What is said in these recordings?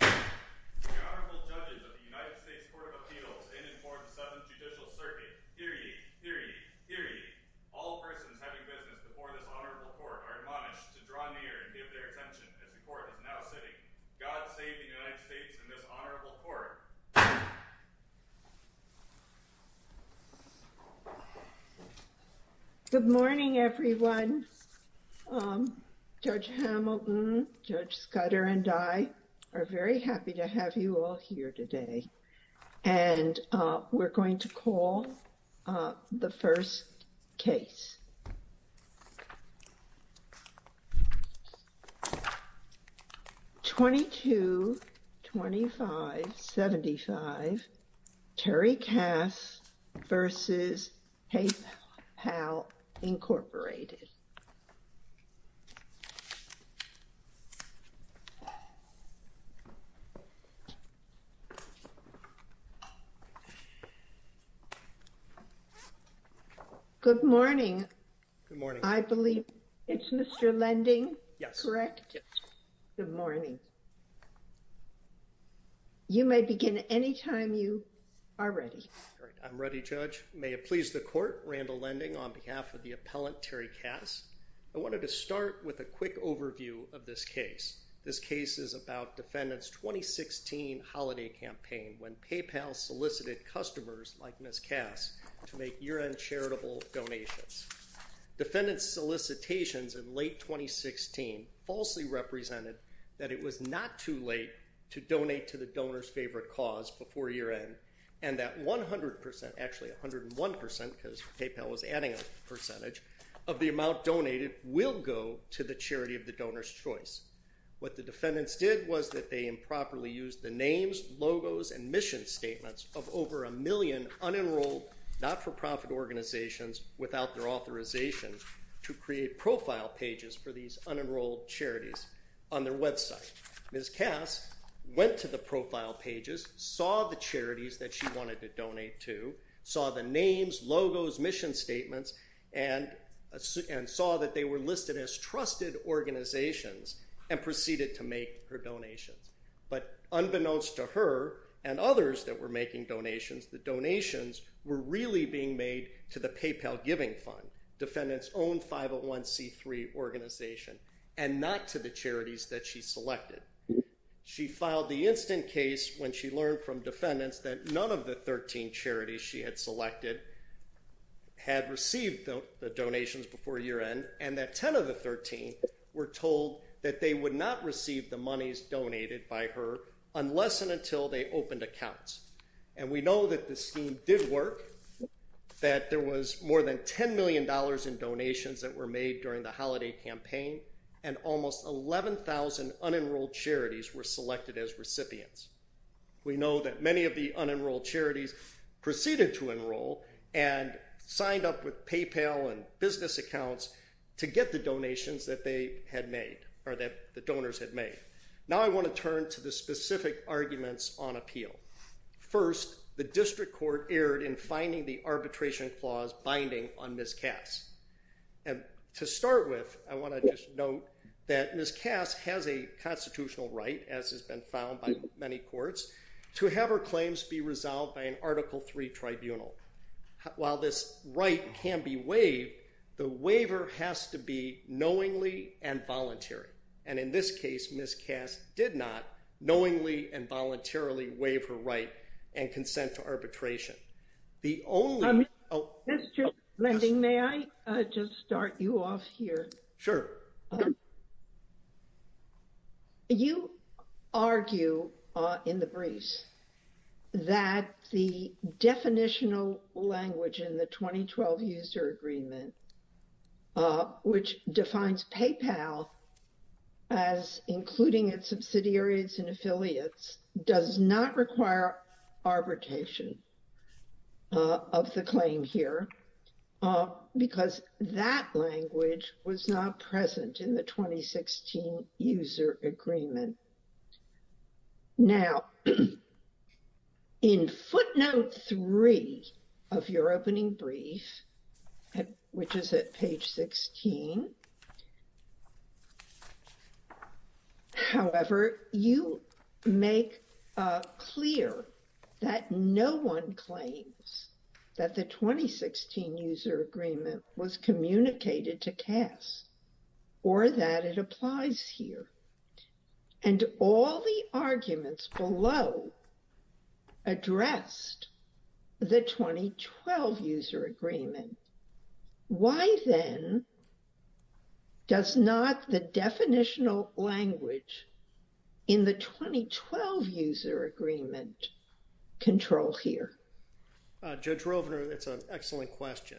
The Honorable Judges of the United States Court of Appeals in and for the 7th Judicial Circuit, hear ye, hear ye, hear ye, all persons having witness before this Honorable Court are admonished to draw near and give their attention as the Court is now sitting. God save the United States and this Honorable Court. Good morning, everyone. Judge Hamilton, Judge Scudder, and I are very happy to have you all here today. And we're going to call the first case. 222575, Terry Kass v. PayPal Incorporated. Good morning. Good morning. I believe it's Mr. Lending. Yes, correct. Good morning. You may begin anytime you are ready. I'm ready, Judge. May it please the Court. Randall Lending on behalf of the appellant, Terry Kass. I wanted to start with a quick overview of this case. This case is about Defendant's 2016 holiday campaign when PayPal solicited customers like Ms. Kass to make year-end charitable donations. Defendant's solicitations in late 2016 falsely represented that it was not too late to donate to the donor's favorite cause before year-end, and that 100%, actually 101% because PayPal was adding a percentage, of the amount donated will go to the charity of the donor's choice. What the defendants did was that they improperly used the names, logos, and mission statements of over a million unenrolled, not-for-profit organizations without their authorization to create profile pages for these unenrolled charities on their website. Ms. Kass went to the profile pages, saw the charities that she wanted to donate to, saw the names, logos, mission statements, and saw that they were listed as trusted organizations and proceeded to make her donations. But unbeknownst to her and others that were making donations, the donations were really being made to the PayPal Giving Fund, Defendant's own 501c3 organization, and not to the charities that she selected. She filed the instant case when she learned from defendants that none of the 13 charities she had selected had received the donations before year-end, and that 10 of the 13 were told that they would not receive the monies donated by her unless and until they opened accounts. And we know that this scheme did work, that there was more than $10 million in donations that were made during the holiday campaign, and almost 11,000 unenrolled charities were selected as recipients. We know that many of the unenrolled charities proceeded to enroll and signed up with PayPal and business accounts to get the donations that they had made, or that the donors had made. Now I want to turn to the specific arguments on appeal. First, the district court erred in finding the arbitration clause binding on Ms. Kass. And to start with, I want to just note that Ms. Kass has a constitutional right, as has been found by many courts, to have her claims be resolved by an Article III tribunal. While this right can be waived, the waiver has to be knowingly and voluntarily. And in this case, Ms. Kass did not knowingly and voluntarily waive her right and consent to arbitration. Mr. Lending, may I just start you off here? Sure. You argue in the briefs that the definitional language in the 2012 user agreement, which defines PayPal as including its subsidiaries and affiliates, does not require arbitration of the claim here because that language was not present in the 2016 user agreement. Now, in footnote three of your opening brief, which is at page 16, however, you make clear that no one claims that the 2016 user agreement was communicated to Kass or that it applies here. And all the arguments below addressed the 2012 user agreement. Why then does not the definitional language in the 2012 user agreement control here? Judge Rovner, that's an excellent question.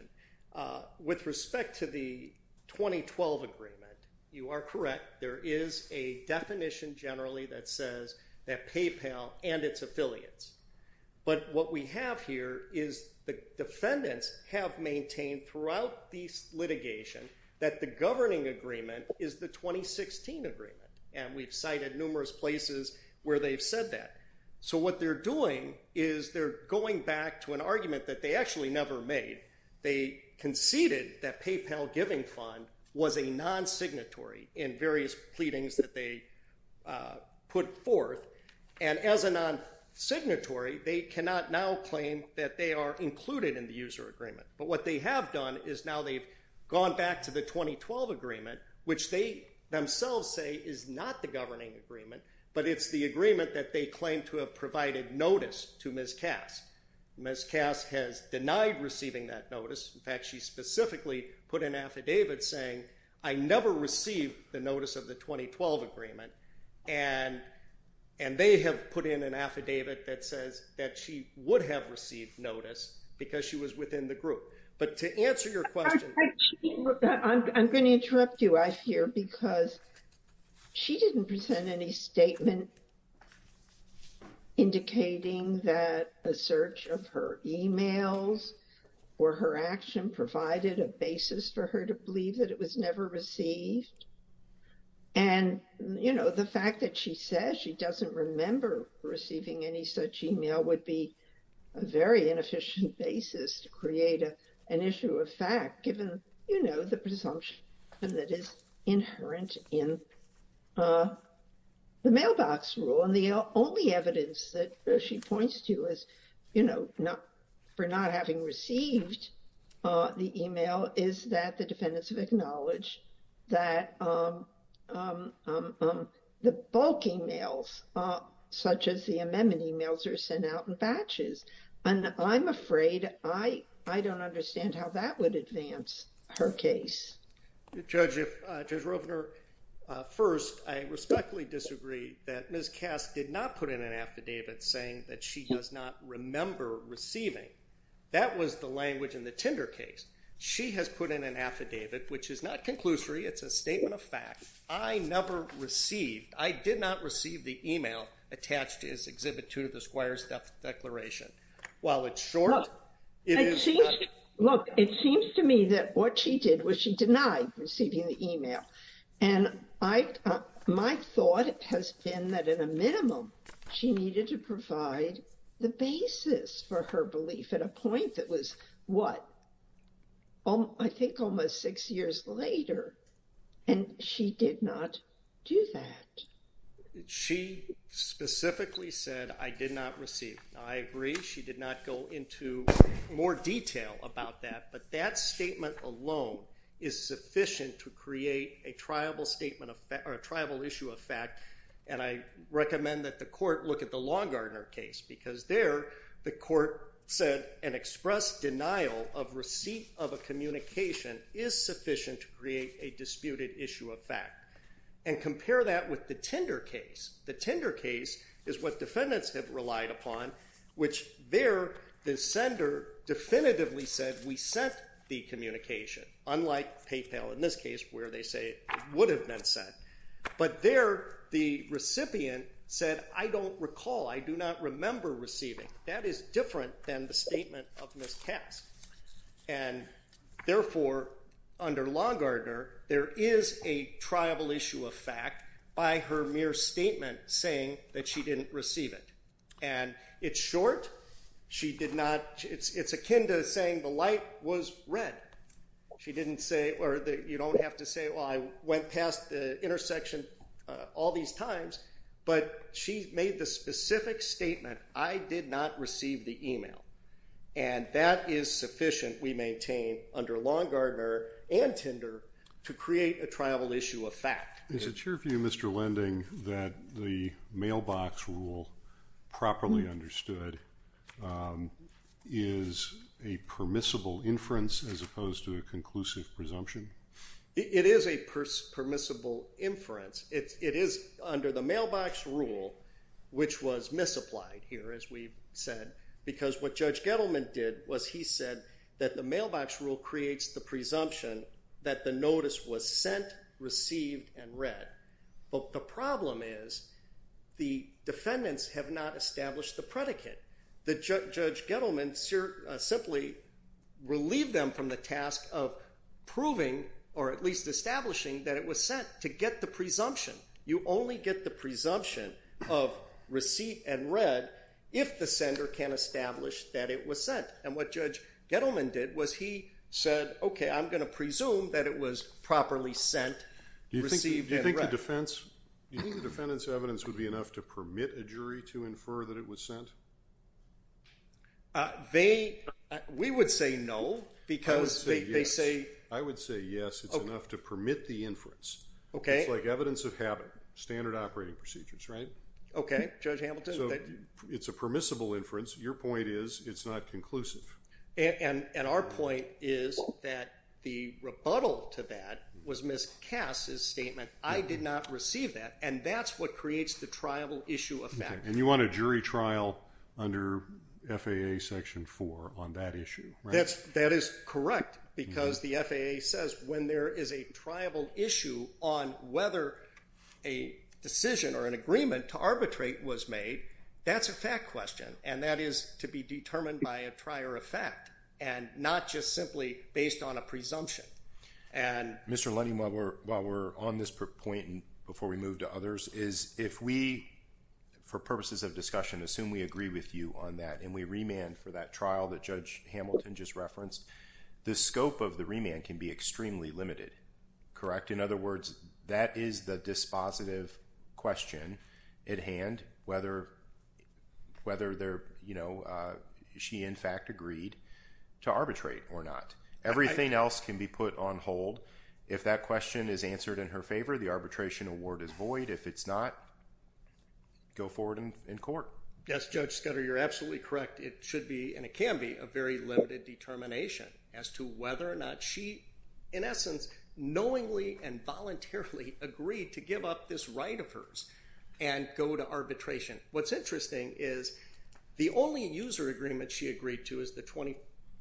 With respect to the 2012 agreement, you are correct. There is a definition generally that says that PayPal and its affiliates. But what we have here is the defendants have maintained throughout these litigation that the governing agreement is the 2016 agreement. And we've cited numerous places where they've said that. So what they're doing is they're going back to an argument that they actually never made. They conceded that PayPal Giving Fund was a non-signatory in various pleadings that they put forth. And as a non-signatory, they cannot now claim that they are included in the user agreement. But what they have done is now they've gone back to the 2012 agreement, which they themselves say is not the governing agreement, but it's the agreement that they claim to have provided notice to Ms. Kass. Ms. Kass has denied receiving that notice. In fact, she specifically put an affidavit saying, I never received the notice of the 2012 agreement. And they have put in an affidavit that says that she would have received notice because she was within the group. I'm going to interrupt you, I fear, because she didn't present any statement indicating that a search of her emails or her action provided a basis for her to believe that it was never received. And, you know, the fact that she says she doesn't remember receiving any such email would be a very inefficient basis to create an issue of fact, given, you know, the presumption that is inherent in the mailbox rule. And the only evidence that she points to is, you know, for not having received the email is that the defendants have acknowledged that the bulk emails, such as the amendment emails, are sent out in batches. And I'm afraid I don't understand how that would advance her case. Judge Roebner, first, I respectfully disagree that Ms. Kass did not put in an affidavit saying that she does not remember receiving. That was the language in the Tinder case. She has put in an affidavit, which is not conclusory. It's a statement of fact. I never received, I did not receive the email attached to his Exhibit 2 of the Squires Declaration. Look, it seems to me that what she did was she denied receiving the email. And my thought has been that, at a minimum, she needed to provide the basis for her belief at a point that was, what, I think almost six years later. And she did not do that. She specifically said, I did not receive. Now, I agree she did not go into more detail about that. But that statement alone is sufficient to create a triable issue of fact. And I recommend that the court look at the Longardner case. Because there, the court said an express denial of receipt of a communication is sufficient to create a disputed issue of fact. And compare that with the Tinder case. The Tinder case is what defendants have relied upon, which there, the sender definitively said, we sent the communication. Unlike PayPal, in this case, where they say it would have been sent. But there, the recipient said, I don't recall. I do not remember receiving. That is different than the statement of miscast. And therefore, under Longardner, there is a triable issue of fact by her mere statement saying that she didn't receive it. And it's short. She did not. It's akin to saying the light was red. She didn't say, or you don't have to say, well, I went past the intersection all these times. But she made the specific statement, I did not receive the email. And that is sufficient, we maintain, under Longardner and Tinder to create a triable issue of fact. Is it true of you, Mr. Lending, that the mailbox rule, properly understood, is a permissible inference as opposed to a conclusive presumption? It is a permissible inference. It is under the mailbox rule, which was misapplied here, as we've said. Because what Judge Gettleman did was he said that the mailbox rule creates the presumption that the notice was sent, received, and read. But the problem is, the defendants have not established the predicate. Judge Gettleman simply relieved them from the task of proving, or at least establishing, that it was sent to get the presumption. You only get the presumption of receipt and read if the sender can establish that it was sent. And what Judge Gettleman did was he said, OK, I'm going to presume that it was properly sent, received, and read. Do you think the defendant's evidence would be enough to permit a jury to infer that it was sent? We would say no, because they say- I would say yes, it's enough to permit the inference. It's like evidence of habit, standard operating procedures, right? OK, Judge Hamilton- So it's a permissible inference. Your point is, it's not conclusive. And our point is that the rebuttal to that was Ms. Cass' statement, I did not receive that. And that's what creates the triable issue of fact. And you want a jury trial under FAA Section 4 on that issue, right? That is correct, because the FAA says when there is a triable issue on whether a decision or an agreement to arbitrate was made, that's a fact question, and that is to be determined by a prior effect, and not just simply based on a presumption. And- Mr. Lundy, while we're on this point, and before we move to others, is if we, for purposes of discussion, assume we agree with you on that, and we remand for that trial that Judge Hamilton just referenced, the scope of the remand can be extremely limited, correct? In other words, that is the dispositive question at hand, whether she, in fact, agreed to arbitrate or not. Everything else can be put on hold. If that question is answered in her favor, the arbitration award is void. If it's not, go forward in court. Yes, Judge Scudder, you're absolutely correct. And it can be a very limited determination as to whether or not she, in essence, knowingly and voluntarily agreed to give up this right of hers and go to arbitration. What's interesting is the only user agreement she agreed to is the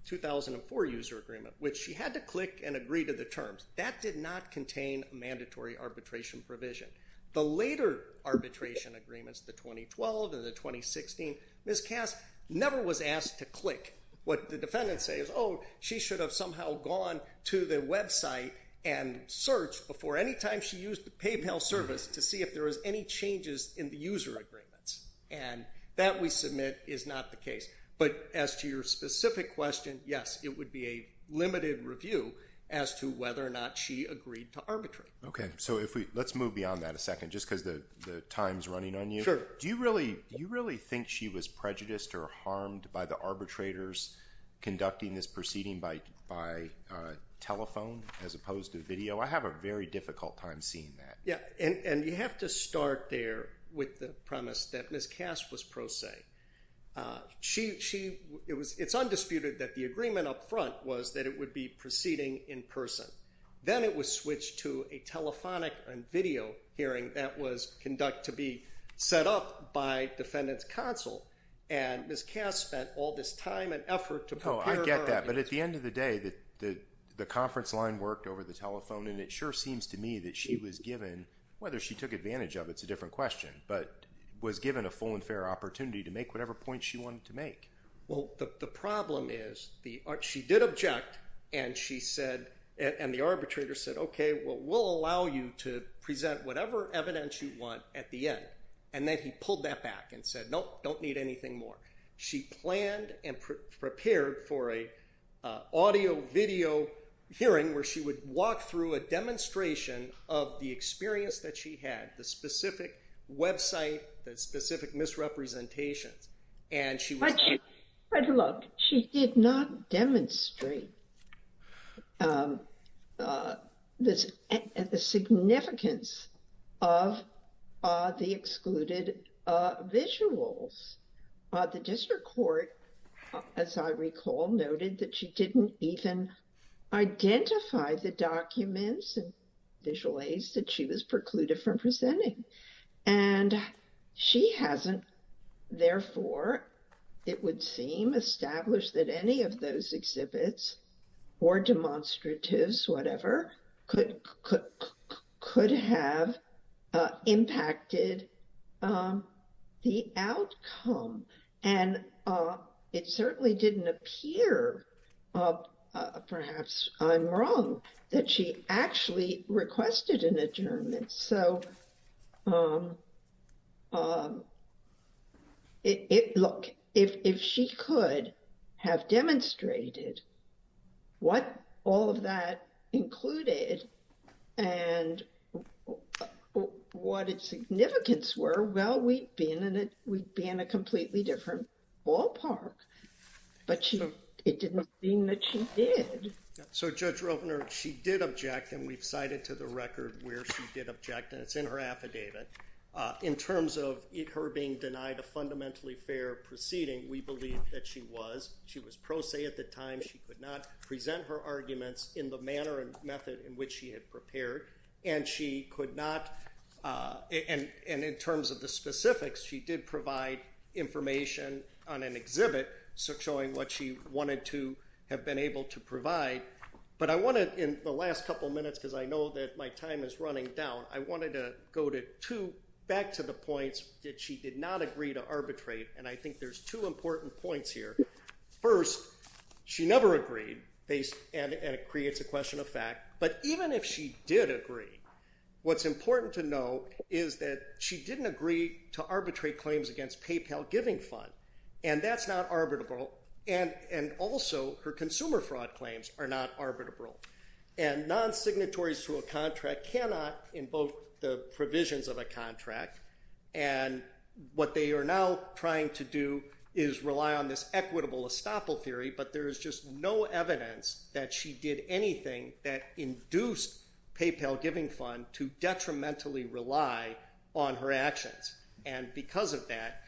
2004 user agreement, which she had to click and agree to the terms. That did not contain a mandatory arbitration provision. The later arbitration agreements, the 2012 and the 2016, Ms. Cass never was asked to click. What the defendants say is, oh, she should have somehow gone to the website and searched before any time she used the PayPal service to see if there was any changes in the user agreements. And that, we submit, is not the case. But as to your specific question, yes, it would be a limited review as to whether or not she agreed to arbitrate. Okay, so let's move beyond that a second just because the time's running on you. Sure. Do you really think she was prejudiced or harmed by the arbitrators conducting this proceeding by telephone as opposed to video? I have a very difficult time seeing that. Yeah, and you have to start there with the premise that Ms. Cass was pro se. It's undisputed that the agreement up front was that it would be proceeding in person. Then it was switched to a telephonic and video hearing that was conducted to be set up by defendant's counsel. And Ms. Cass spent all this time and effort to prepare her arguments. No, I get that. But at the end of the day, the conference line worked over the telephone, and it sure seems to me that she was given, whether she took advantage of it, it's a different question, but was given a full and fair opportunity to make whatever points she wanted to make. Well, the problem is she did object, and the arbitrator said, okay, well, we'll allow you to present whatever evidence you want at the end. And then he pulled that back and said, nope, don't need anything more. She planned and prepared for an audio-video hearing where she would walk through a demonstration of the experience that she had, the specific website, the specific misrepresentations. But look, she did not demonstrate the significance of the excluded visuals. The district court, as I recall, noted that she didn't even identify the documents and visual aids that she was precluded from presenting. And she hasn't, therefore, it would seem, established that any of those exhibits or demonstratives, whatever, could have impacted the outcome. And it certainly didn't appear, perhaps I'm wrong, that she actually requested an adjournment. So, look, if she could have demonstrated what all of that included and what its significance were, well, we'd be in a completely different ballpark. But it didn't seem that she did. So Judge Roepner, she did object, and we've cited to the record where she did object, and it's in her affidavit. In terms of her being denied a fundamentally fair proceeding, we believe that she was. She was pro se at the time. She could not present her arguments in the manner and method in which she had prepared. And she could not, and in terms of the specifics, she did provide information on an exhibit showing what she wanted to have been able to provide. But I wanted, in the last couple minutes, because I know that my time is running down, I wanted to go back to the points that she did not agree to arbitrate. And I think there's two important points here. First, she never agreed, and it creates a question of fact. But even if she did agree, what's important to know is that she didn't agree to arbitrate claims against PayPal Giving Fund, and that's not arbitrable. And also, her consumer fraud claims are not arbitrable. And non-signatories to a contract cannot invoke the provisions of a contract, and what they are now trying to do is rely on this equitable estoppel theory. But there is just no evidence that she did anything that induced PayPal Giving Fund to detrimentally rely on her actions. And because of that,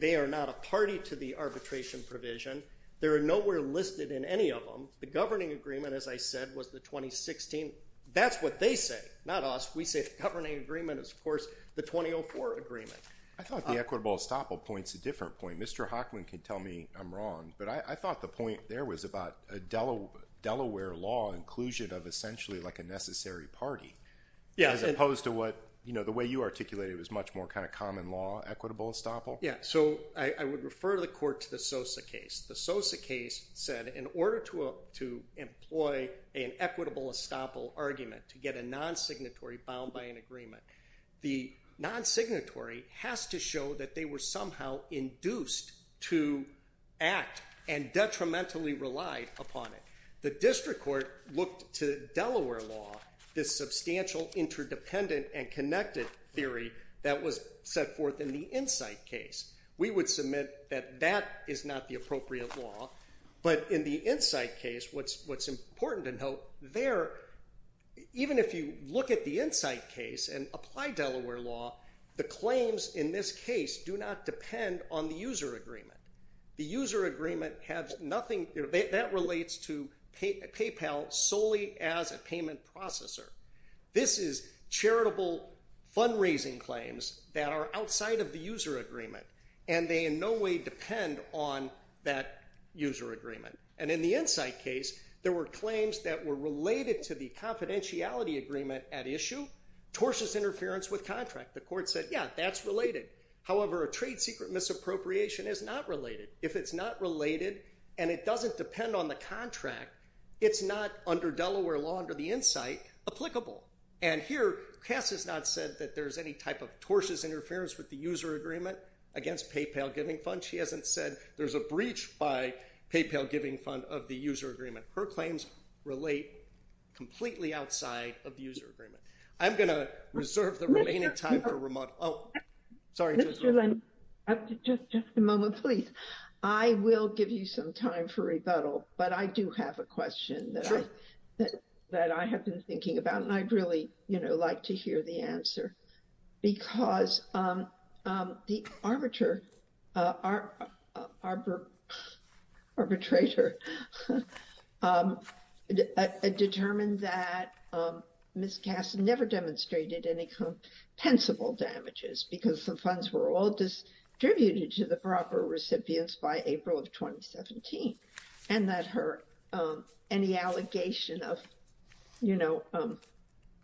they are not a party to the arbitration provision. They are nowhere listed in any of them. The governing agreement, as I said, was the 2016. That's what they say, not us. We say the governing agreement is, of course, the 2004 agreement. I thought the equitable estoppel point's a different point. Mr. Hochman can tell me I'm wrong, but I thought the point there was about a Delaware law inclusion of essentially like a necessary party as opposed to what, you know, the way you articulated was much more kind of common law equitable estoppel. Yeah, so I would refer the court to the Sosa case. The Sosa case said in order to employ an equitable estoppel argument to get a non-signatory bound by an agreement, the non-signatory has to show that they were somehow induced to act and detrimentally relied upon it. The district court looked to Delaware law, this substantial interdependent and connected theory that was set forth in the Insight case. We would submit that that is not the appropriate law. But in the Insight case, what's important to note there, even if you look at the Insight case and apply Delaware law, the claims in this case do not depend on the user agreement. The user agreement has nothing, that relates to PayPal solely as a payment processor. This is charitable fundraising claims that are outside of the user agreement, and they in no way depend on that user agreement. And in the Insight case, there were claims that were related to the confidentiality agreement at issue, tortious interference with contract. The court said, yeah, that's related. However, a trade secret misappropriation is not related. If it's not related, and it doesn't depend on the contract, it's not under Delaware law under the Insight applicable. And here, Cass has not said that there's any type of tortious interference with the user agreement against PayPal Giving Fund. She hasn't said there's a breach by PayPal Giving Fund of the user agreement. Her claims relate completely outside of user agreement. I'm going to reserve the remaining time for remote. Sorry, just a moment, please. I will give you some time for rebuttal, but I do have a question that I have been thinking about. I'd really like to hear the answer, because the arbitrator determined that Miss Cass never demonstrated any compensable damages because the funds were all distributed to the proper recipients by April of 2017. And that any allegation of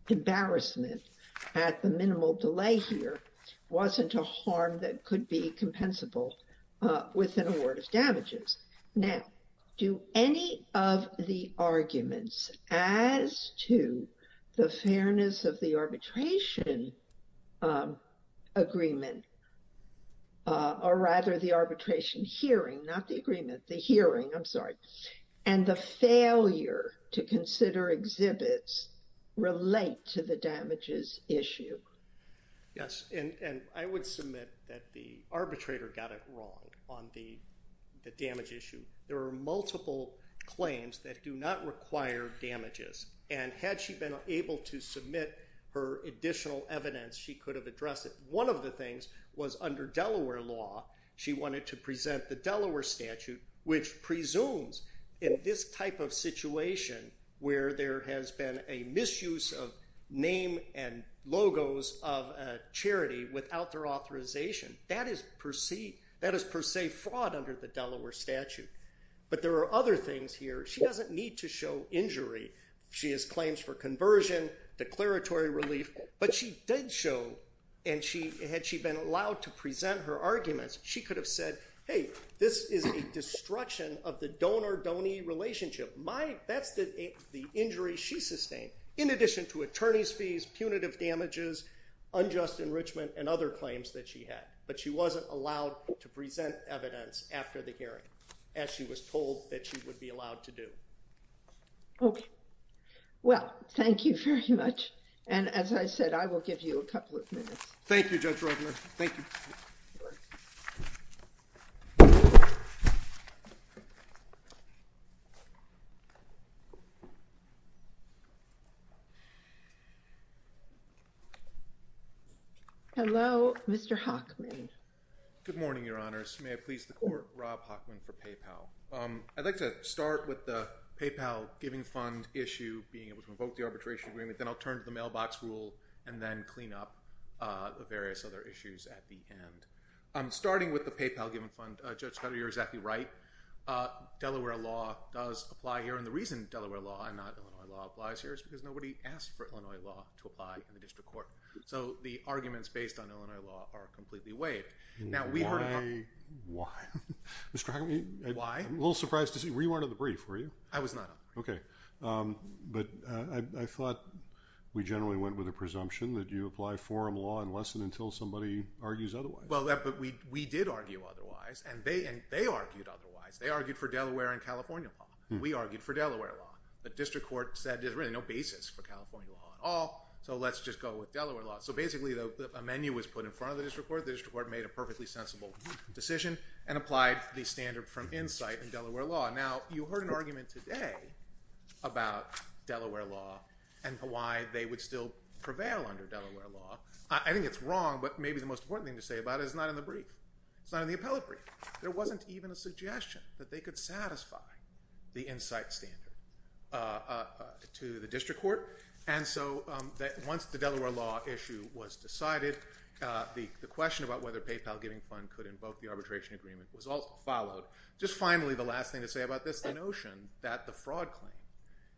embarrassment at the minimal delay here wasn't a harm that could be compensable with an award of damages. Now, do any of the arguments as to the fairness of the arbitration agreement, or rather the arbitration hearing, not the agreement, the hearing, I'm sorry, and the failure to consider exhibits relate to the damages issue? Yes, and I would submit that the arbitrator got it wrong on the damage issue. There are multiple claims that do not require damages. And had she been able to submit her additional evidence, she could have addressed it. One of the things was under Delaware law, she wanted to present the Delaware statute, which presumes in this type of situation where there has been a misuse of name and logos of a charity without their authorization, that is per se fraud under the Delaware statute. But there are other things here. She doesn't need to show injury. She has claims for conversion, declaratory relief. But she did show, and had she been allowed to present her arguments, she could have said, hey, this is a destruction of the donor-donor relationship. That's the injury she sustained, in addition to attorney's fees, punitive damages, unjust enrichment, and other claims that she had. But she wasn't allowed to present evidence after the hearing, as she was told that she would be allowed to do. OK. Well, thank you very much. And as I said, I will give you a couple of minutes. Thank you, Judge Rogler. Thank you. Hello, Mr. Hockman. Good morning, Your Honors. May I please the court? Rob Hockman for PayPal. I'd like to start with the PayPal giving fund issue, being able to invoke the arbitration agreement. Then I'll turn to the mailbox rule, and then clean up the various other issues at the end. Starting with the PayPal giving fund, Judge Schrader, you're exactly right. Delaware law does apply here. And the reason Delaware law and not Illinois law applies here is because nobody asked for Illinois law to apply in the district court. So the arguments based on Illinois law are completely weighed. Why? Mr. Hockman? Why? I'm a little surprised to see. You weren't at the brief, were you? I was not. OK. But I thought we generally went with a presumption that you apply forum law unless and until somebody argues otherwise. Well, but we did argue otherwise, and they argued otherwise. They argued for Delaware and California law. We argued for Delaware law. The district court said there's really no basis for California law at all, so let's just go with Delaware law. So basically a menu was put in front of the district court. The district court made a perfectly sensible decision and applied the standard from insight in Delaware law. Now, you heard an argument today about Delaware law and why they would still prevail under Delaware law. I think it's wrong, but maybe the most important thing to say about it is it's not in the brief. It's not in the appellate brief. There wasn't even a suggestion that they could satisfy the insight standard to the district court. And so once the Delaware law issue was decided, the question about whether PayPal Giving Fund could invoke the arbitration agreement was followed. Just finally, the last thing to say about this, the notion that the fraud claim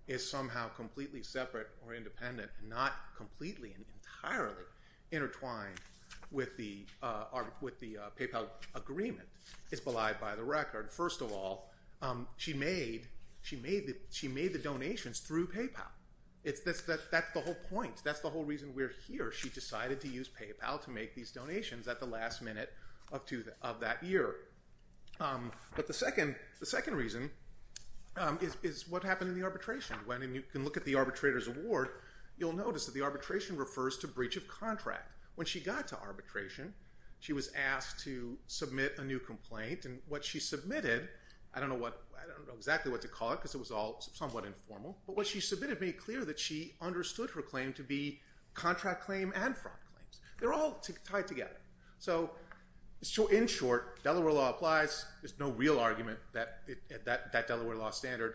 is somehow completely separate or independent, not completely and entirely intertwined with the PayPal agreement is belied by the record. First of all, she made the donations through PayPal. That's the whole point. That's the whole reason we're here. She decided to use PayPal to make these donations at the last minute of that year. But the second reason is what happened in the arbitration. When you can look at the arbitrator's award, you'll notice that the arbitration refers to breach of contract. When she got to arbitration, she was asked to submit a new complaint, and what she submitted, I don't know exactly what to call it because it was all somewhat informal, but what she submitted made clear that she understood her claim to be contract claim and fraud claims. They're all tied together. So in short, Delaware law applies. There's no real argument that that Delaware law standard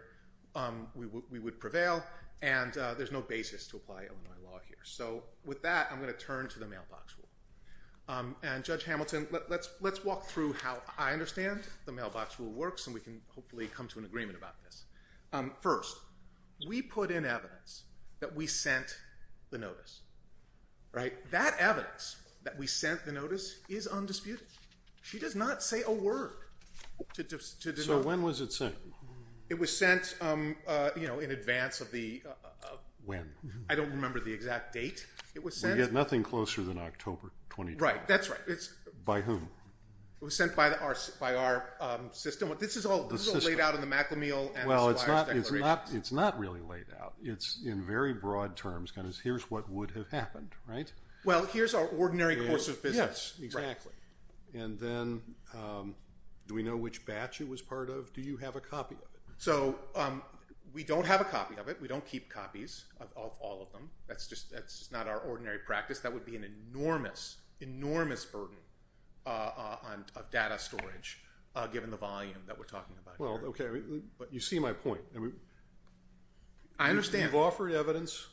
would prevail, and there's no basis to apply Illinois law here. So with that, I'm going to turn to the mailbox rule. And Judge Hamilton, let's walk through how I understand the mailbox rule works, and we can hopefully come to an agreement about this. First, we put in evidence that we sent the notice, right? That evidence that we sent the notice is undisputed. She does not say a word. So when was it sent? It was sent, you know, in advance of the – When? I don't remember the exact date it was sent. We had nothing closer than October 2012. Right, that's right. By whom? It was sent by our system. This is all laid out in the McLean-Meehl-Anasuya's declaration. Well, it's not really laid out. It's in very broad terms kind of here's what would have happened, right? Well, here's our ordinary course of business. Yes, exactly. And then do we know which batch it was part of? Do you have a copy of it? So we don't have a copy of it. We don't keep copies of all of them. That's not our ordinary practice. That would be an enormous, enormous burden on data storage, given the volume that we're talking about here. Well, okay, but you see my point. I understand. You've offered evidence,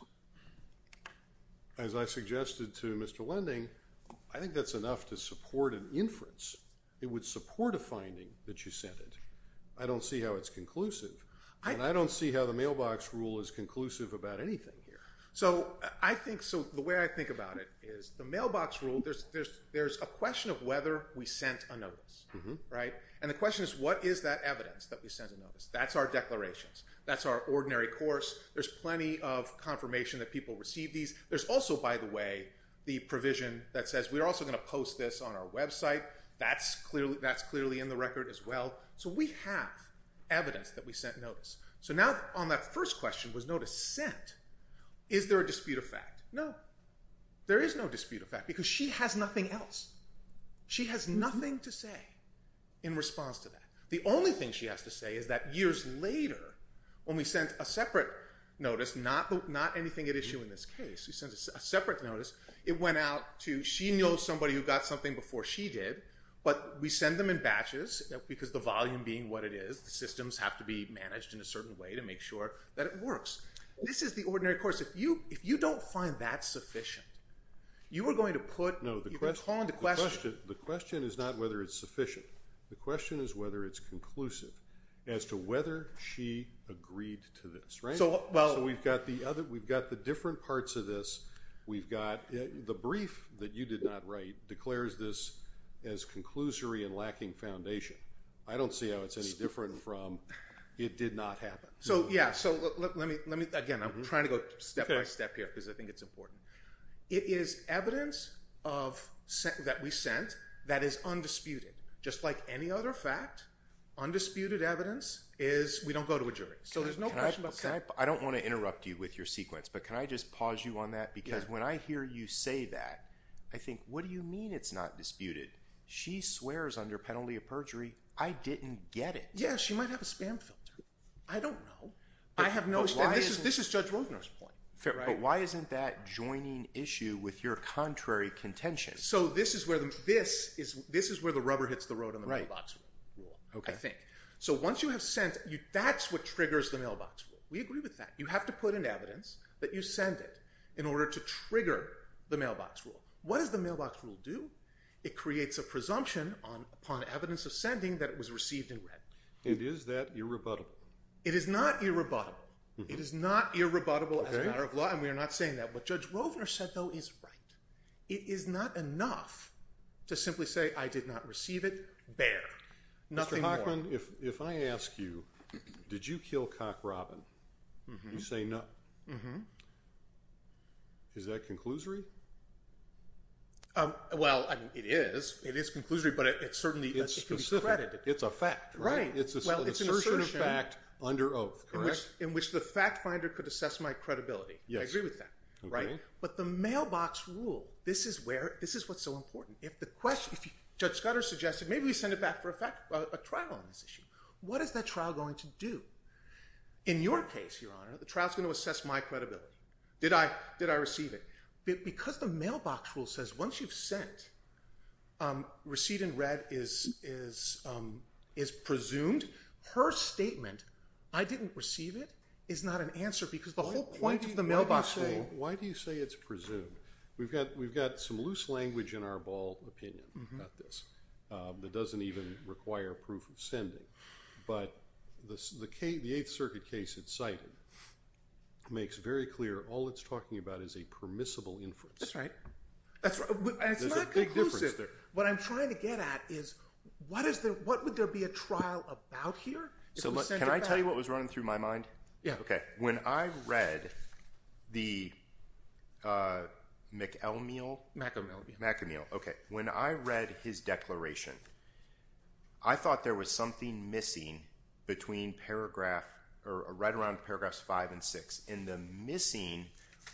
as I suggested to Mr. Lending. I think that's enough to support an inference. It would support a finding that you sent it. I don't see how it's conclusive. And I don't see how the mailbox rule is conclusive about anything here. So the way I think about it is the mailbox rule, there's a question of whether we sent a notice, right? And the question is what is that evidence that we sent a notice? That's our declarations. That's our ordinary course. There's plenty of confirmation that people receive these. There's also, by the way, the provision that says we're also going to post this on our website. That's clearly in the record as well. So we have evidence that we sent notice. So now on that first question was notice sent. Is there a dispute of fact? No. There is no dispute of fact because she has nothing else. She has nothing to say in response to that. The only thing she has to say is that years later, when we sent a separate notice, not anything at issue in this case, we sent a separate notice. It went out to she knows somebody who got something before she did, but we send them in batches because the volume being what it is, the systems have to be managed in a certain way to make sure that it works. This is the ordinary course. If you don't find that sufficient, you are going to put, you're going to call into question. The question is not whether it's sufficient. The question is whether it's conclusive as to whether she agreed to this. So we've got the different parts of this. We've got the brief that you did not write declares this as conclusory and lacking foundation. I don't see how it's any different from it did not happen. So, yeah. So let me, let me, again, I'm trying to go step by step here because I think it's important. It is evidence of that we sent that is undisputed. Just like any other fact, undisputed evidence is we don't go to a jury. So there's no question. I don't want to interrupt you with your sequence, but can I just pause you on that? Because when I hear you say that, I think, what do you mean? It's not disputed. She swears under penalty of perjury. I didn't get it. Yeah. She might have a spam filter. I don't know. I have no, this is, this is judge Rovner's point, but why isn't that joining issue with your contrary contention? So this is where the, this is, this is where the rubber hits the road on the mailbox. Okay. So once you have sent you, that's what triggers the mailbox. We agree with that. You have to put in evidence that you send it in order to trigger the mailbox rule. What does the mailbox rule do? It creates a presumption on upon evidence of sending that it was received in red. And is that irrebuttable? It is not irrebuttable. It is not irrebuttable as a matter of law. And we are not saying that, but judge Rovner said, though, is right. It is not enough to simply say, I did not receive it. Bear nothing. If I ask you, did you kill cock Robin? You say no. Is that conclusory? Um, well, I mean, it is, it is conclusory, but it's certainly, it's a fact, right? It's assertion of fact under oath in which, in which the fact finder could assess my credibility. I agree with that. Right. But the mailbox rule, this is where, this is what's so important. If the question, if you judge Scudder suggested, maybe we send it back for a fact about a trial on this issue. What is that trial going to do in your case? Your honor, the trial is going to assess my credibility. Did I, did I receive it? Because the mailbox rule says once you've sent, um, receipt in red is, is, um, is presumed her statement. I didn't receive it is not an answer because the whole point of the mailbox. Why do you say it's presumed we've got, we've got some loose language in our ball opinion about this. Um, it doesn't even require proof of sending, but the, the K, the eighth circuit case it's cited makes very clear. All it's talking about is a permissible influence. That's right. That's right. What I'm trying to get at is what is the, what would there be a trial about here? So can I tell you what was running through my mind? Yeah. Okay. When I read the, uh, McElmeel, McElmeel McElmeel. Okay. When I read his declaration, I thought there was something missing between paragraph or right around paragraphs five and six in the missing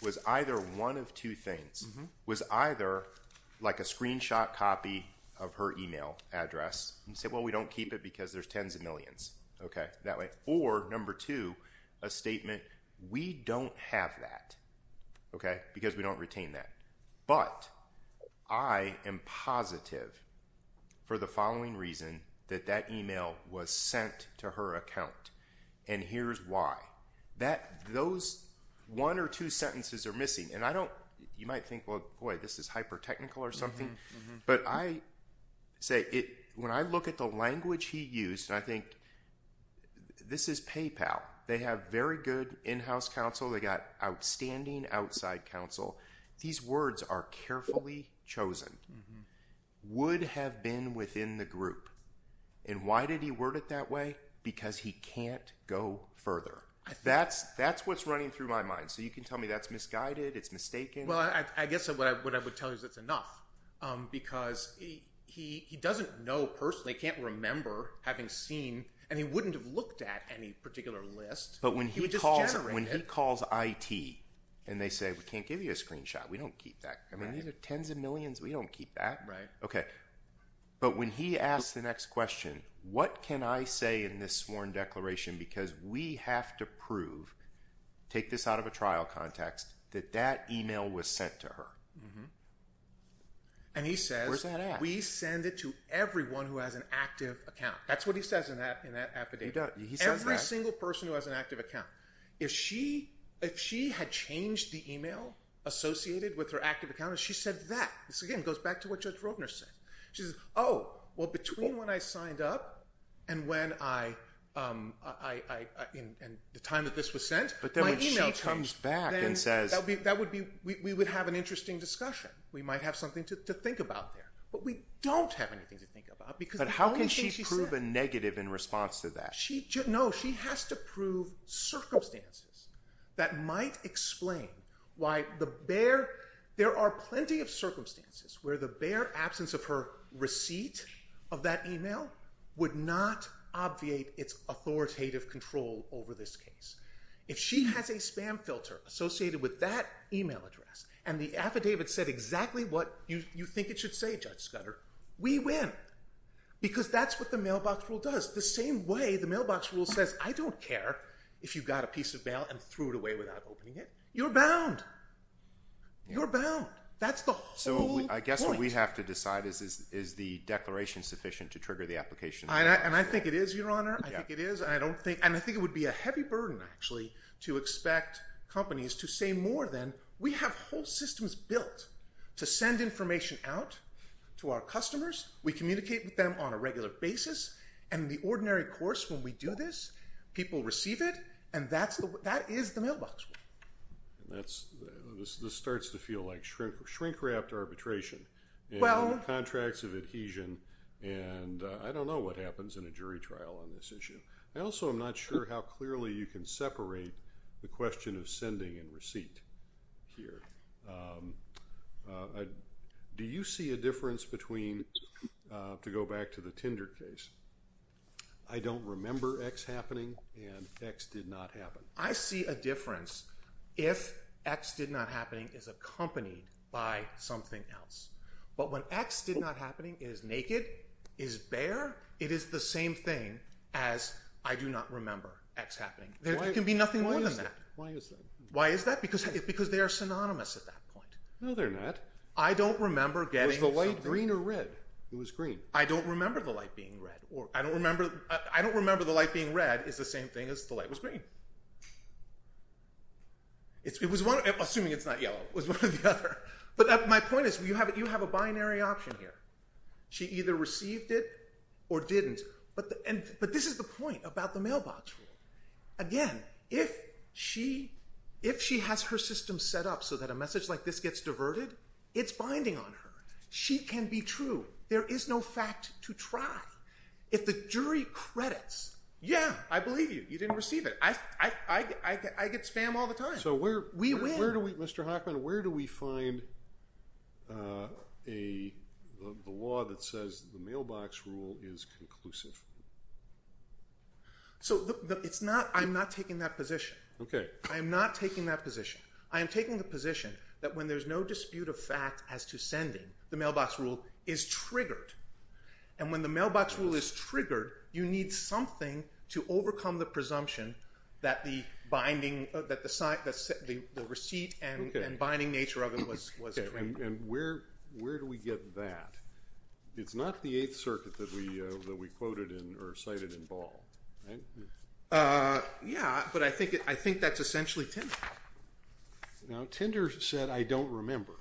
was either one of two things was either like a screenshot copy of her email address and say, well, we don't keep it because there's tens of millions. Okay. That way. Or number two, a statement. We don't have that. Okay. Because we don't retain that, but I am positive for the following reason that that email was sent to her account. And here's why that, those one or two sentences are missing. And I don't, you might think, well, boy, this is hyper-technical or something. But I say it, when I look at the language he used, I think this is PayPal. They have very good in-house counsel. They got outstanding outside counsel. These words are carefully chosen would have been within the group. And why did he word it that way? Because he can't go further. That's, that's what's running through my mind. So you can tell me that's misguided. It's mistaken. I guess what I would tell you is it's enough because he, he doesn't know personally can't remember having seen, and he wouldn't have looked at any particular list, but when he calls when he calls it and they say, we can't give you a screenshot, we don't keep that. I mean, these are tens of millions. We don't keep that. Right. Okay. But when he asked the next question, what can I say in this sworn declaration? Because we have to prove, take this out of a trial context that that email was sent to her. And he says, we send it to everyone who has an active account. That's what he says in that, in that affidavit, every single person who has an active account. If she, if she had changed the email associated with her active account, she said that this again, goes back to what judge Rotner said. She says, Oh, well, between when I signed up and when I, um, I, I, I, I, and the time that this was sent, but then she comes back and says, that would be, that would be, we would have an interesting discussion. We might have something to think about there, but we don't have anything to think about because how can she prove a negative in response to that? She just knows she has to prove circumstances that might explain why the bear, there are plenty of circumstances where the bear absence of her receipt of that email would not obviate its authoritative control over this case. If she has a spam filter associated with that email address and the affidavit said exactly what you think it should say, judge Scudder, we win because that's what the mailbox rule does. The same way the mailbox rule says, I don't care if you've got a piece of mail and threw it away without opening it. You're bound. You're bound. That's the whole point. I guess what we have to decide is, is the declaration sufficient to trigger the application. And I think it is your honor. I think it is. I don't think, and I think it would be a heavy burden actually to expect companies to say more than we have whole systems built to send information out to our customers. We communicate with them on a regular basis and the ordinary course when we do this, people receive it. And that's the, that is the mailbox. And that's, this, this starts to feel like shrink, shrink, wrapped arbitration contracts of adhesion. And I don't know what happens in a jury trial on this issue. I also am not sure how clearly you can separate the question of sending and receipt here. Do you see a difference between to go back to the Tinder case? I don't remember X happening and X did not happen. I see a difference if X did not happening is accompanied by something else. But when X did not happening is naked is bear. It is the same thing as I do not remember X happening. There can be nothing more than that. Why is that? Because it's because they are synonymous at that point. No, they're not. I don't remember getting the light green or red. It was green. I don't remember the light being red or I don't remember, I don't remember the light being red is the same thing as the light was green. It's, it was one, I'm assuming it's not yellow. It was one of the other. But my point is you have, you have a binary option here. She either received it or didn't. But the, and, but this is the point about the mailbox rule. Again, if she, if she has her system set up so that a message like this gets diverted, it's binding on her. She can be true. There is no fact to try if the jury credits. Yeah, I believe you. You didn't receive it. I, I, I, I get, I get spam all the time. So where we, where do we, Mr. Hoffman, where do we find a, the law that says the mailbox rule is conclusive? So it's not, I'm not taking that position. Okay. I am not taking that position. I am taking the position that when there's no dispute of fact as to sending the receipt, it's triggered. And when the mailbox rule is triggered, you need something to overcome the presumption that the binding, that the site, the receipt and binding nature of it was, was. And where, where do we get that? It's not the eighth circuit that we, that we quoted in or cited in ball. Right. Yeah. But I think, I think that's essentially Tinder. Now Tinder said, I don't remember.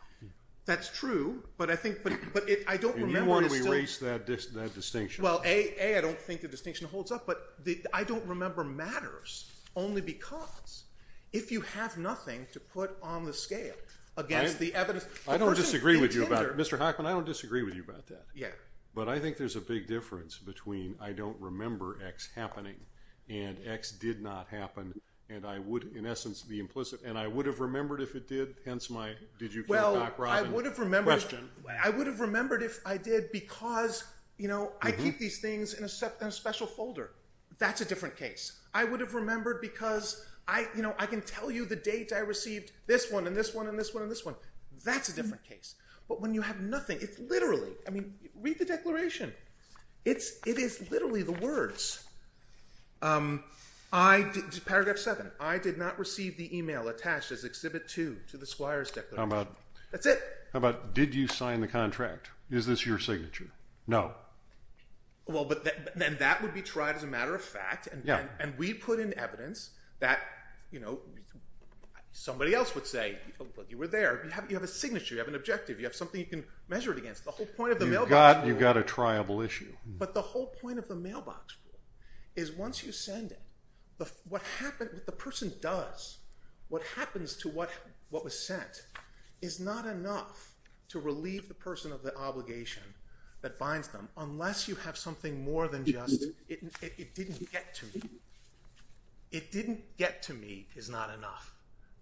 That's true. But I think, but I don't remember that distinction. Well, a, I don't think the distinction holds up, but the, I don't remember matters only because if you have nothing to put on the scale against the evidence, I don't disagree with you about it, Mr. Hoffman, I don't disagree with you about that. Yeah. But I think there's a big difference between, I don't remember X happening and X did not happen. And I would in essence be implicit and I would have remembered if it did. Hence my, did you, well, I would have remembered, I would have remembered if I did because, you know, I keep these things in a special folder. That's a different case. I would have remembered because I, you know, I can tell you the date I received this one and this one and this one and this one, that's a different case. But when you have nothing, it's literally, I mean, read the declaration. It's, it is literally the words. I did paragraph seven. I did not receive the email attached as exhibit two to the Squires declaration. That's it. How about did you sign the contract? Is this your signature? No. Well, but then that would be tried as a matter of fact. And we put in evidence that, you know, somebody else would say you were there. You have, you have a signature, you have an objective, you have something you can measure it against. The whole point of the mailbox rule. You've got a triable issue. But the whole point of the mailbox rule is once you send it, the, what happened, the person does, what happens to what, what was sent is not enough to relieve the person of the obligation that binds them. Unless you have something more than just, it didn't get to me. It didn't get to me is not enough.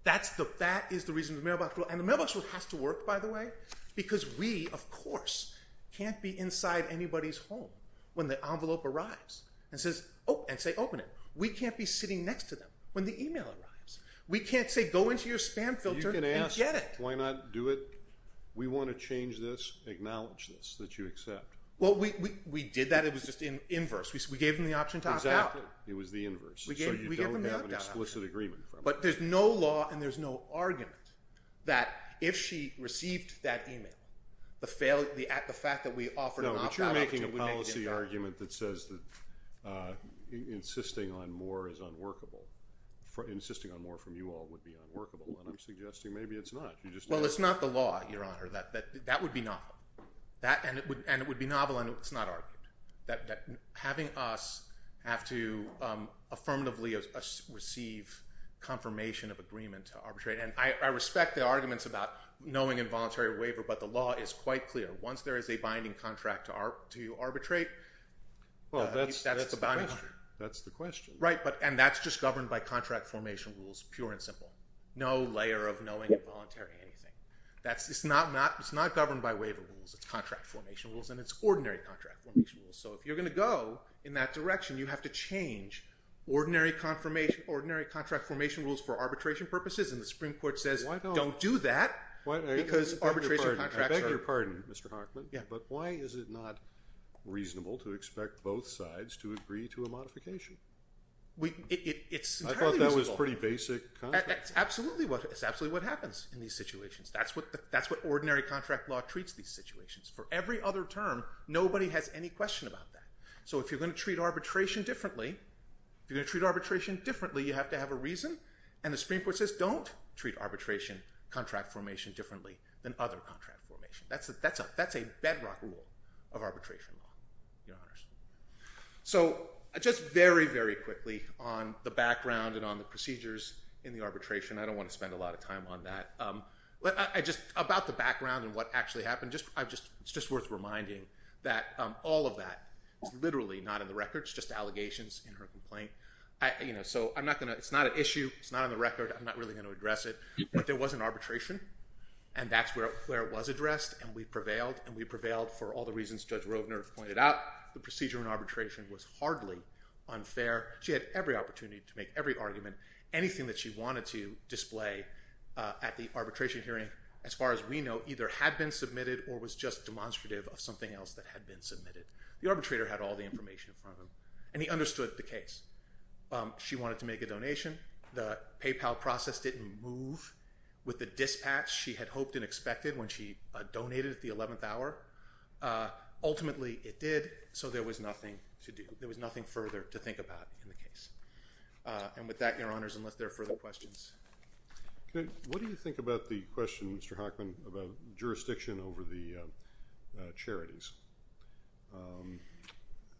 That's the, that is the reason the mailbox rule and the mailbox rule has to work by the way, because we, of course, can't be inside anybody's home when the envelope arrives and says, Oh, and say, open it. We can't be sitting next to them. When the email arrives, we can't say, go into your spam filter and get it. Why not do it? We want to change this, acknowledge this, that you accept. Well, we, we, we did that. It was just in inverse. We gave them the option to opt out. It was the inverse. We gave them an explicit agreement, but there's no law. And there's no argument that if she received that email, the failure, the act, the fact that we offered, no, but you're making a policy argument that says that, uh, insisting on more is unworkable for insisting on more from you all would be unworkable. And I'm suggesting maybe it's not, you just, well, it's not the law you're on or that, that, that would be not that. And it would, and it would be novel and it's not argued that, that having us have to, um, affirmatively receive confirmation of agreement to arbitrate. And I respect the arguments about knowing involuntary waiver, but the law is quite clear. Once there is a binding contract to our, to arbitrate, well, that's, that's the boundary. That's the question, right? But, and that's just governed by contract formation rules, pure and simple, no layer of knowing involuntary anything. That's, it's not, not, it's not governed by waiver rules. It's contract formation rules and it's ordinary contract rules. So if you're going to go in that direction, you have to change ordinary confirmation, ordinary contract formation rules for arbitration purposes. And the Supreme Court says, don't do that because arbitration contracts are... I beg your pardon, Mr. Harkman, but why is it not reasonable to expect both sides to agree to a modification? We, it's entirely reasonable. I thought that was pretty basic. Absolutely. It's absolutely what happens in these situations. That's what the, that's what ordinary contract law treats these situations. For every other term, nobody has any question about that. So if you're going to treat arbitration differently, if you're going to treat arbitration differently, you have to have a reason. And the Supreme Court says, don't treat arbitration contract formation differently than other contract formation. That's a, that's a, that's a bedrock rule of arbitration law. So just very, very quickly on the background and on the procedures in the arbitration, I don't want to spend a lot of time on that. Um, I just, about the background and what actually happened, just, I've just, it's just worth reminding that, um, all of that is literally not in the records, just allegations in her complaint. I, you know, so I'm not going to, it's not an issue. It's not on the record. I'm not really going to address it, but there was an arbitration and that's where, where it was addressed and we prevailed and we prevailed for all the reasons judge Roedner pointed out. The procedure in arbitration was hardly unfair. She had every opportunity to make every argument, anything that she wanted to display, uh, at the arbitration hearing, as far as we know, either had been submitted or was just demonstrative of something else that had been submitted. The arbitrator had all the information in front of him and he understood the case. Um, she wanted to make a donation. The PayPal process didn't move with the dispatch she had hoped and expected when she donated at the 11th hour. Uh, ultimately it did. So there was nothing to do. There was nothing further to think about in the case. Uh, and with that, your honors, unless there are further questions. What do you think about the question, Mr. Hockman, about jurisdiction over the charities? Um,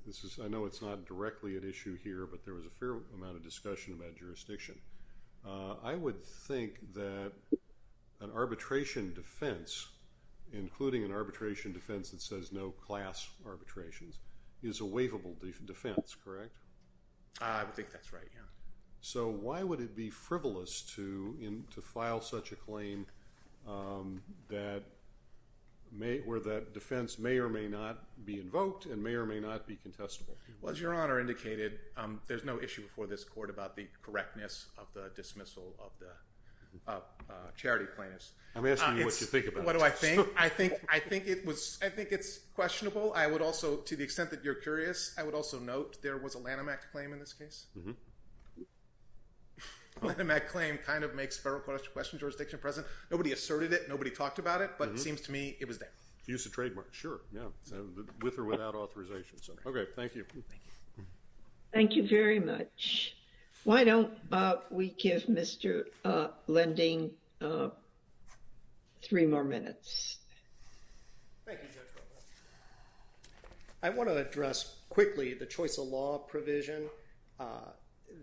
this is, I know it's not directly at issue here, but there was a fair amount of discussion about jurisdiction. Uh, I would think that an arbitration defense, including an arbitration defense that says no class arbitrations is a waivable defense, correct? I would think that's right. Yeah. So why would it be frivolous to, to file such a claim, um, that may, where the defense may or may not be invoked and may or may not be contestable? Well, as your honor indicated, um, there's no issue before this court about the correctness of the dismissal of the, uh, uh, charity plaintiffs. I'm asking you what you think about it. What do I think? I think, I think it was, I think it's questionable. I would also, to the extent that you're curious, I would also note there was a Lanham Act claim in this case. Lanham Act claim kind of makes federal question jurisdiction present. So nobody asserted it, nobody talked about it, but it seems to me it was that. Use of trademark. Sure. Yeah. With or without authorization. So, okay. Thank you. Thank you very much. Why don't we give Mr. Lending, uh, three more minutes. I want to address quickly the choice of law provision, uh,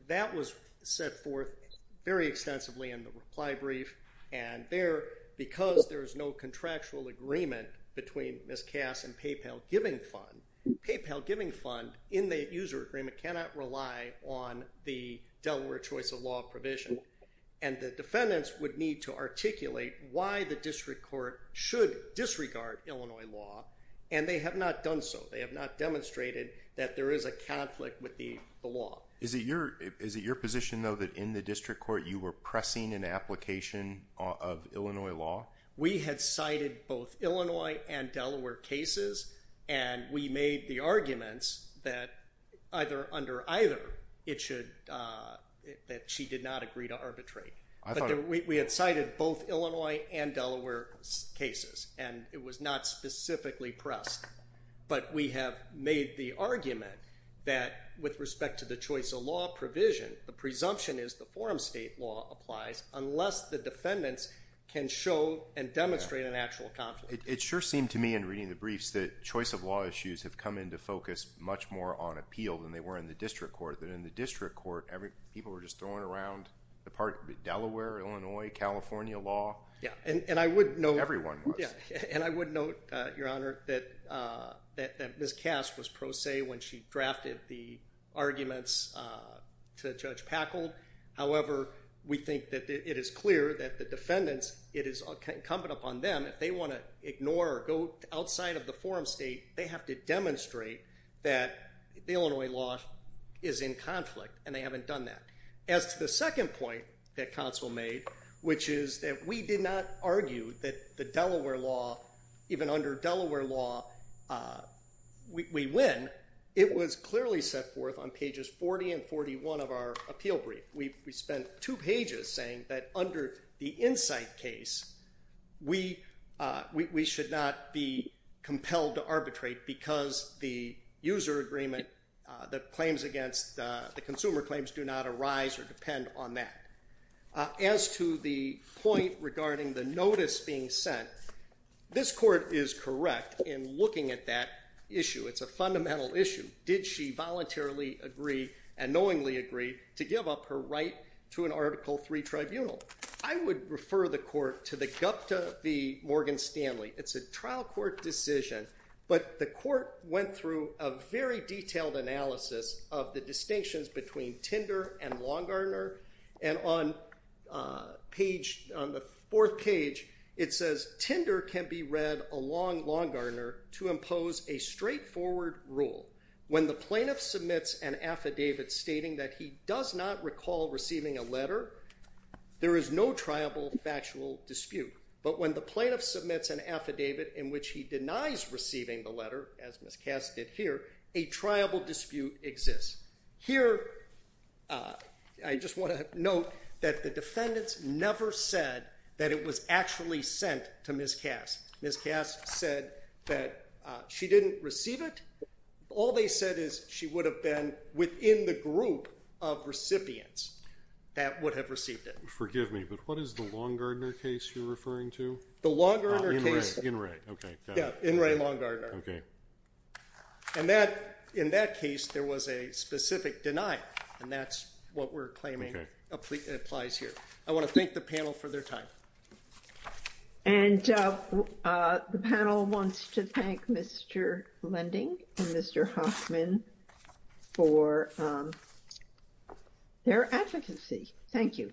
that was set forth very extensively in the reply brief. And there, because there is no contractual agreement between Ms. Cass and PayPal giving fund PayPal giving fund in the user agreement, cannot rely on the Delaware choice of law provision. And the defendants would need to articulate why the district court should disregard Illinois law. And they have not done so. They have not demonstrated that there is a conflict with the law. Is it your, is it your position though, that in the district court, you were pressing an application of Illinois law? We had cited both Illinois and Delaware cases, and we made the arguments that either under either it should, uh, that she did not agree to arbitrate. We had cited both Illinois and Delaware cases, and it was not specifically pressed, but we have made the argument that with respect to the choice of law provision, the presumption is the forum state law applies unless the defendants can show and demonstrate an actual conflict. It sure seemed to me in reading the briefs that choice of law issues have come into focus much more on appeal than they were in the district court that in the district court, every people were just throwing around the park, the Delaware, Illinois, California law. Yeah. And I would know everyone. Yeah. And I would note, uh, your honor, that, uh, that this cast was pro se when she drafted the arguments, uh, to judge Packle. However, we think that it is clear that the defendants it is incumbent upon them. If they want to ignore or go outside of the forum state, they have to demonstrate that the Illinois law is in conflict and they haven't done that. As to the second point that council made, which is that we did not argue that the Delaware law even under Delaware law, uh, we, we win. It was clearly set forth on pages 40 and 41 of our appeal brief. We've spent two pages saying that under the insight case, we, uh, we, we should not be compelled to arbitrate because the user agreement, uh, that claims against, uh, the consumer claims do not arise or depend on that. Uh, as to the point regarding the notice being sent, this court is correct in looking at that issue. It's a fundamental issue. Did she voluntarily agree and knowingly agree to give up her right to an article three tribunal? I would refer the court to the Gupta V Morgan Stanley. It's a trial court decision, but the court went through a very detailed analysis of the distinctions between Tinder and long Gardner. And on, uh, page on the fourth page, it says Tinder can be read along long Gardner to impose a straightforward rule. When the plaintiff submits an affidavit stating that he does not recall receiving a letter, there is no tribal factual dispute, but when the plaintiff submits an affidavit in which he denies receiving the letter, as Ms. Cass did here, a tribal dispute exists here. Uh, I just want to note that the defendants never said that it was actually sent to Ms. Cass. Ms. Cass said that, uh, she didn't receive it. All they said is she would have been within the group of recipients that would have received it. Forgive me, but what is the long Gardner case you're referring to? The long Gardner case in Ray. Okay. Yeah. In Ray long Gardner. Okay. And that in that case, there was a specific denial and that's what we're claiming applies here. I want to thank the panel for their time. And, uh, uh, the panel wants to thank Mr. Lending and Mr. Hoffman for, um, their advocacy. Thank you.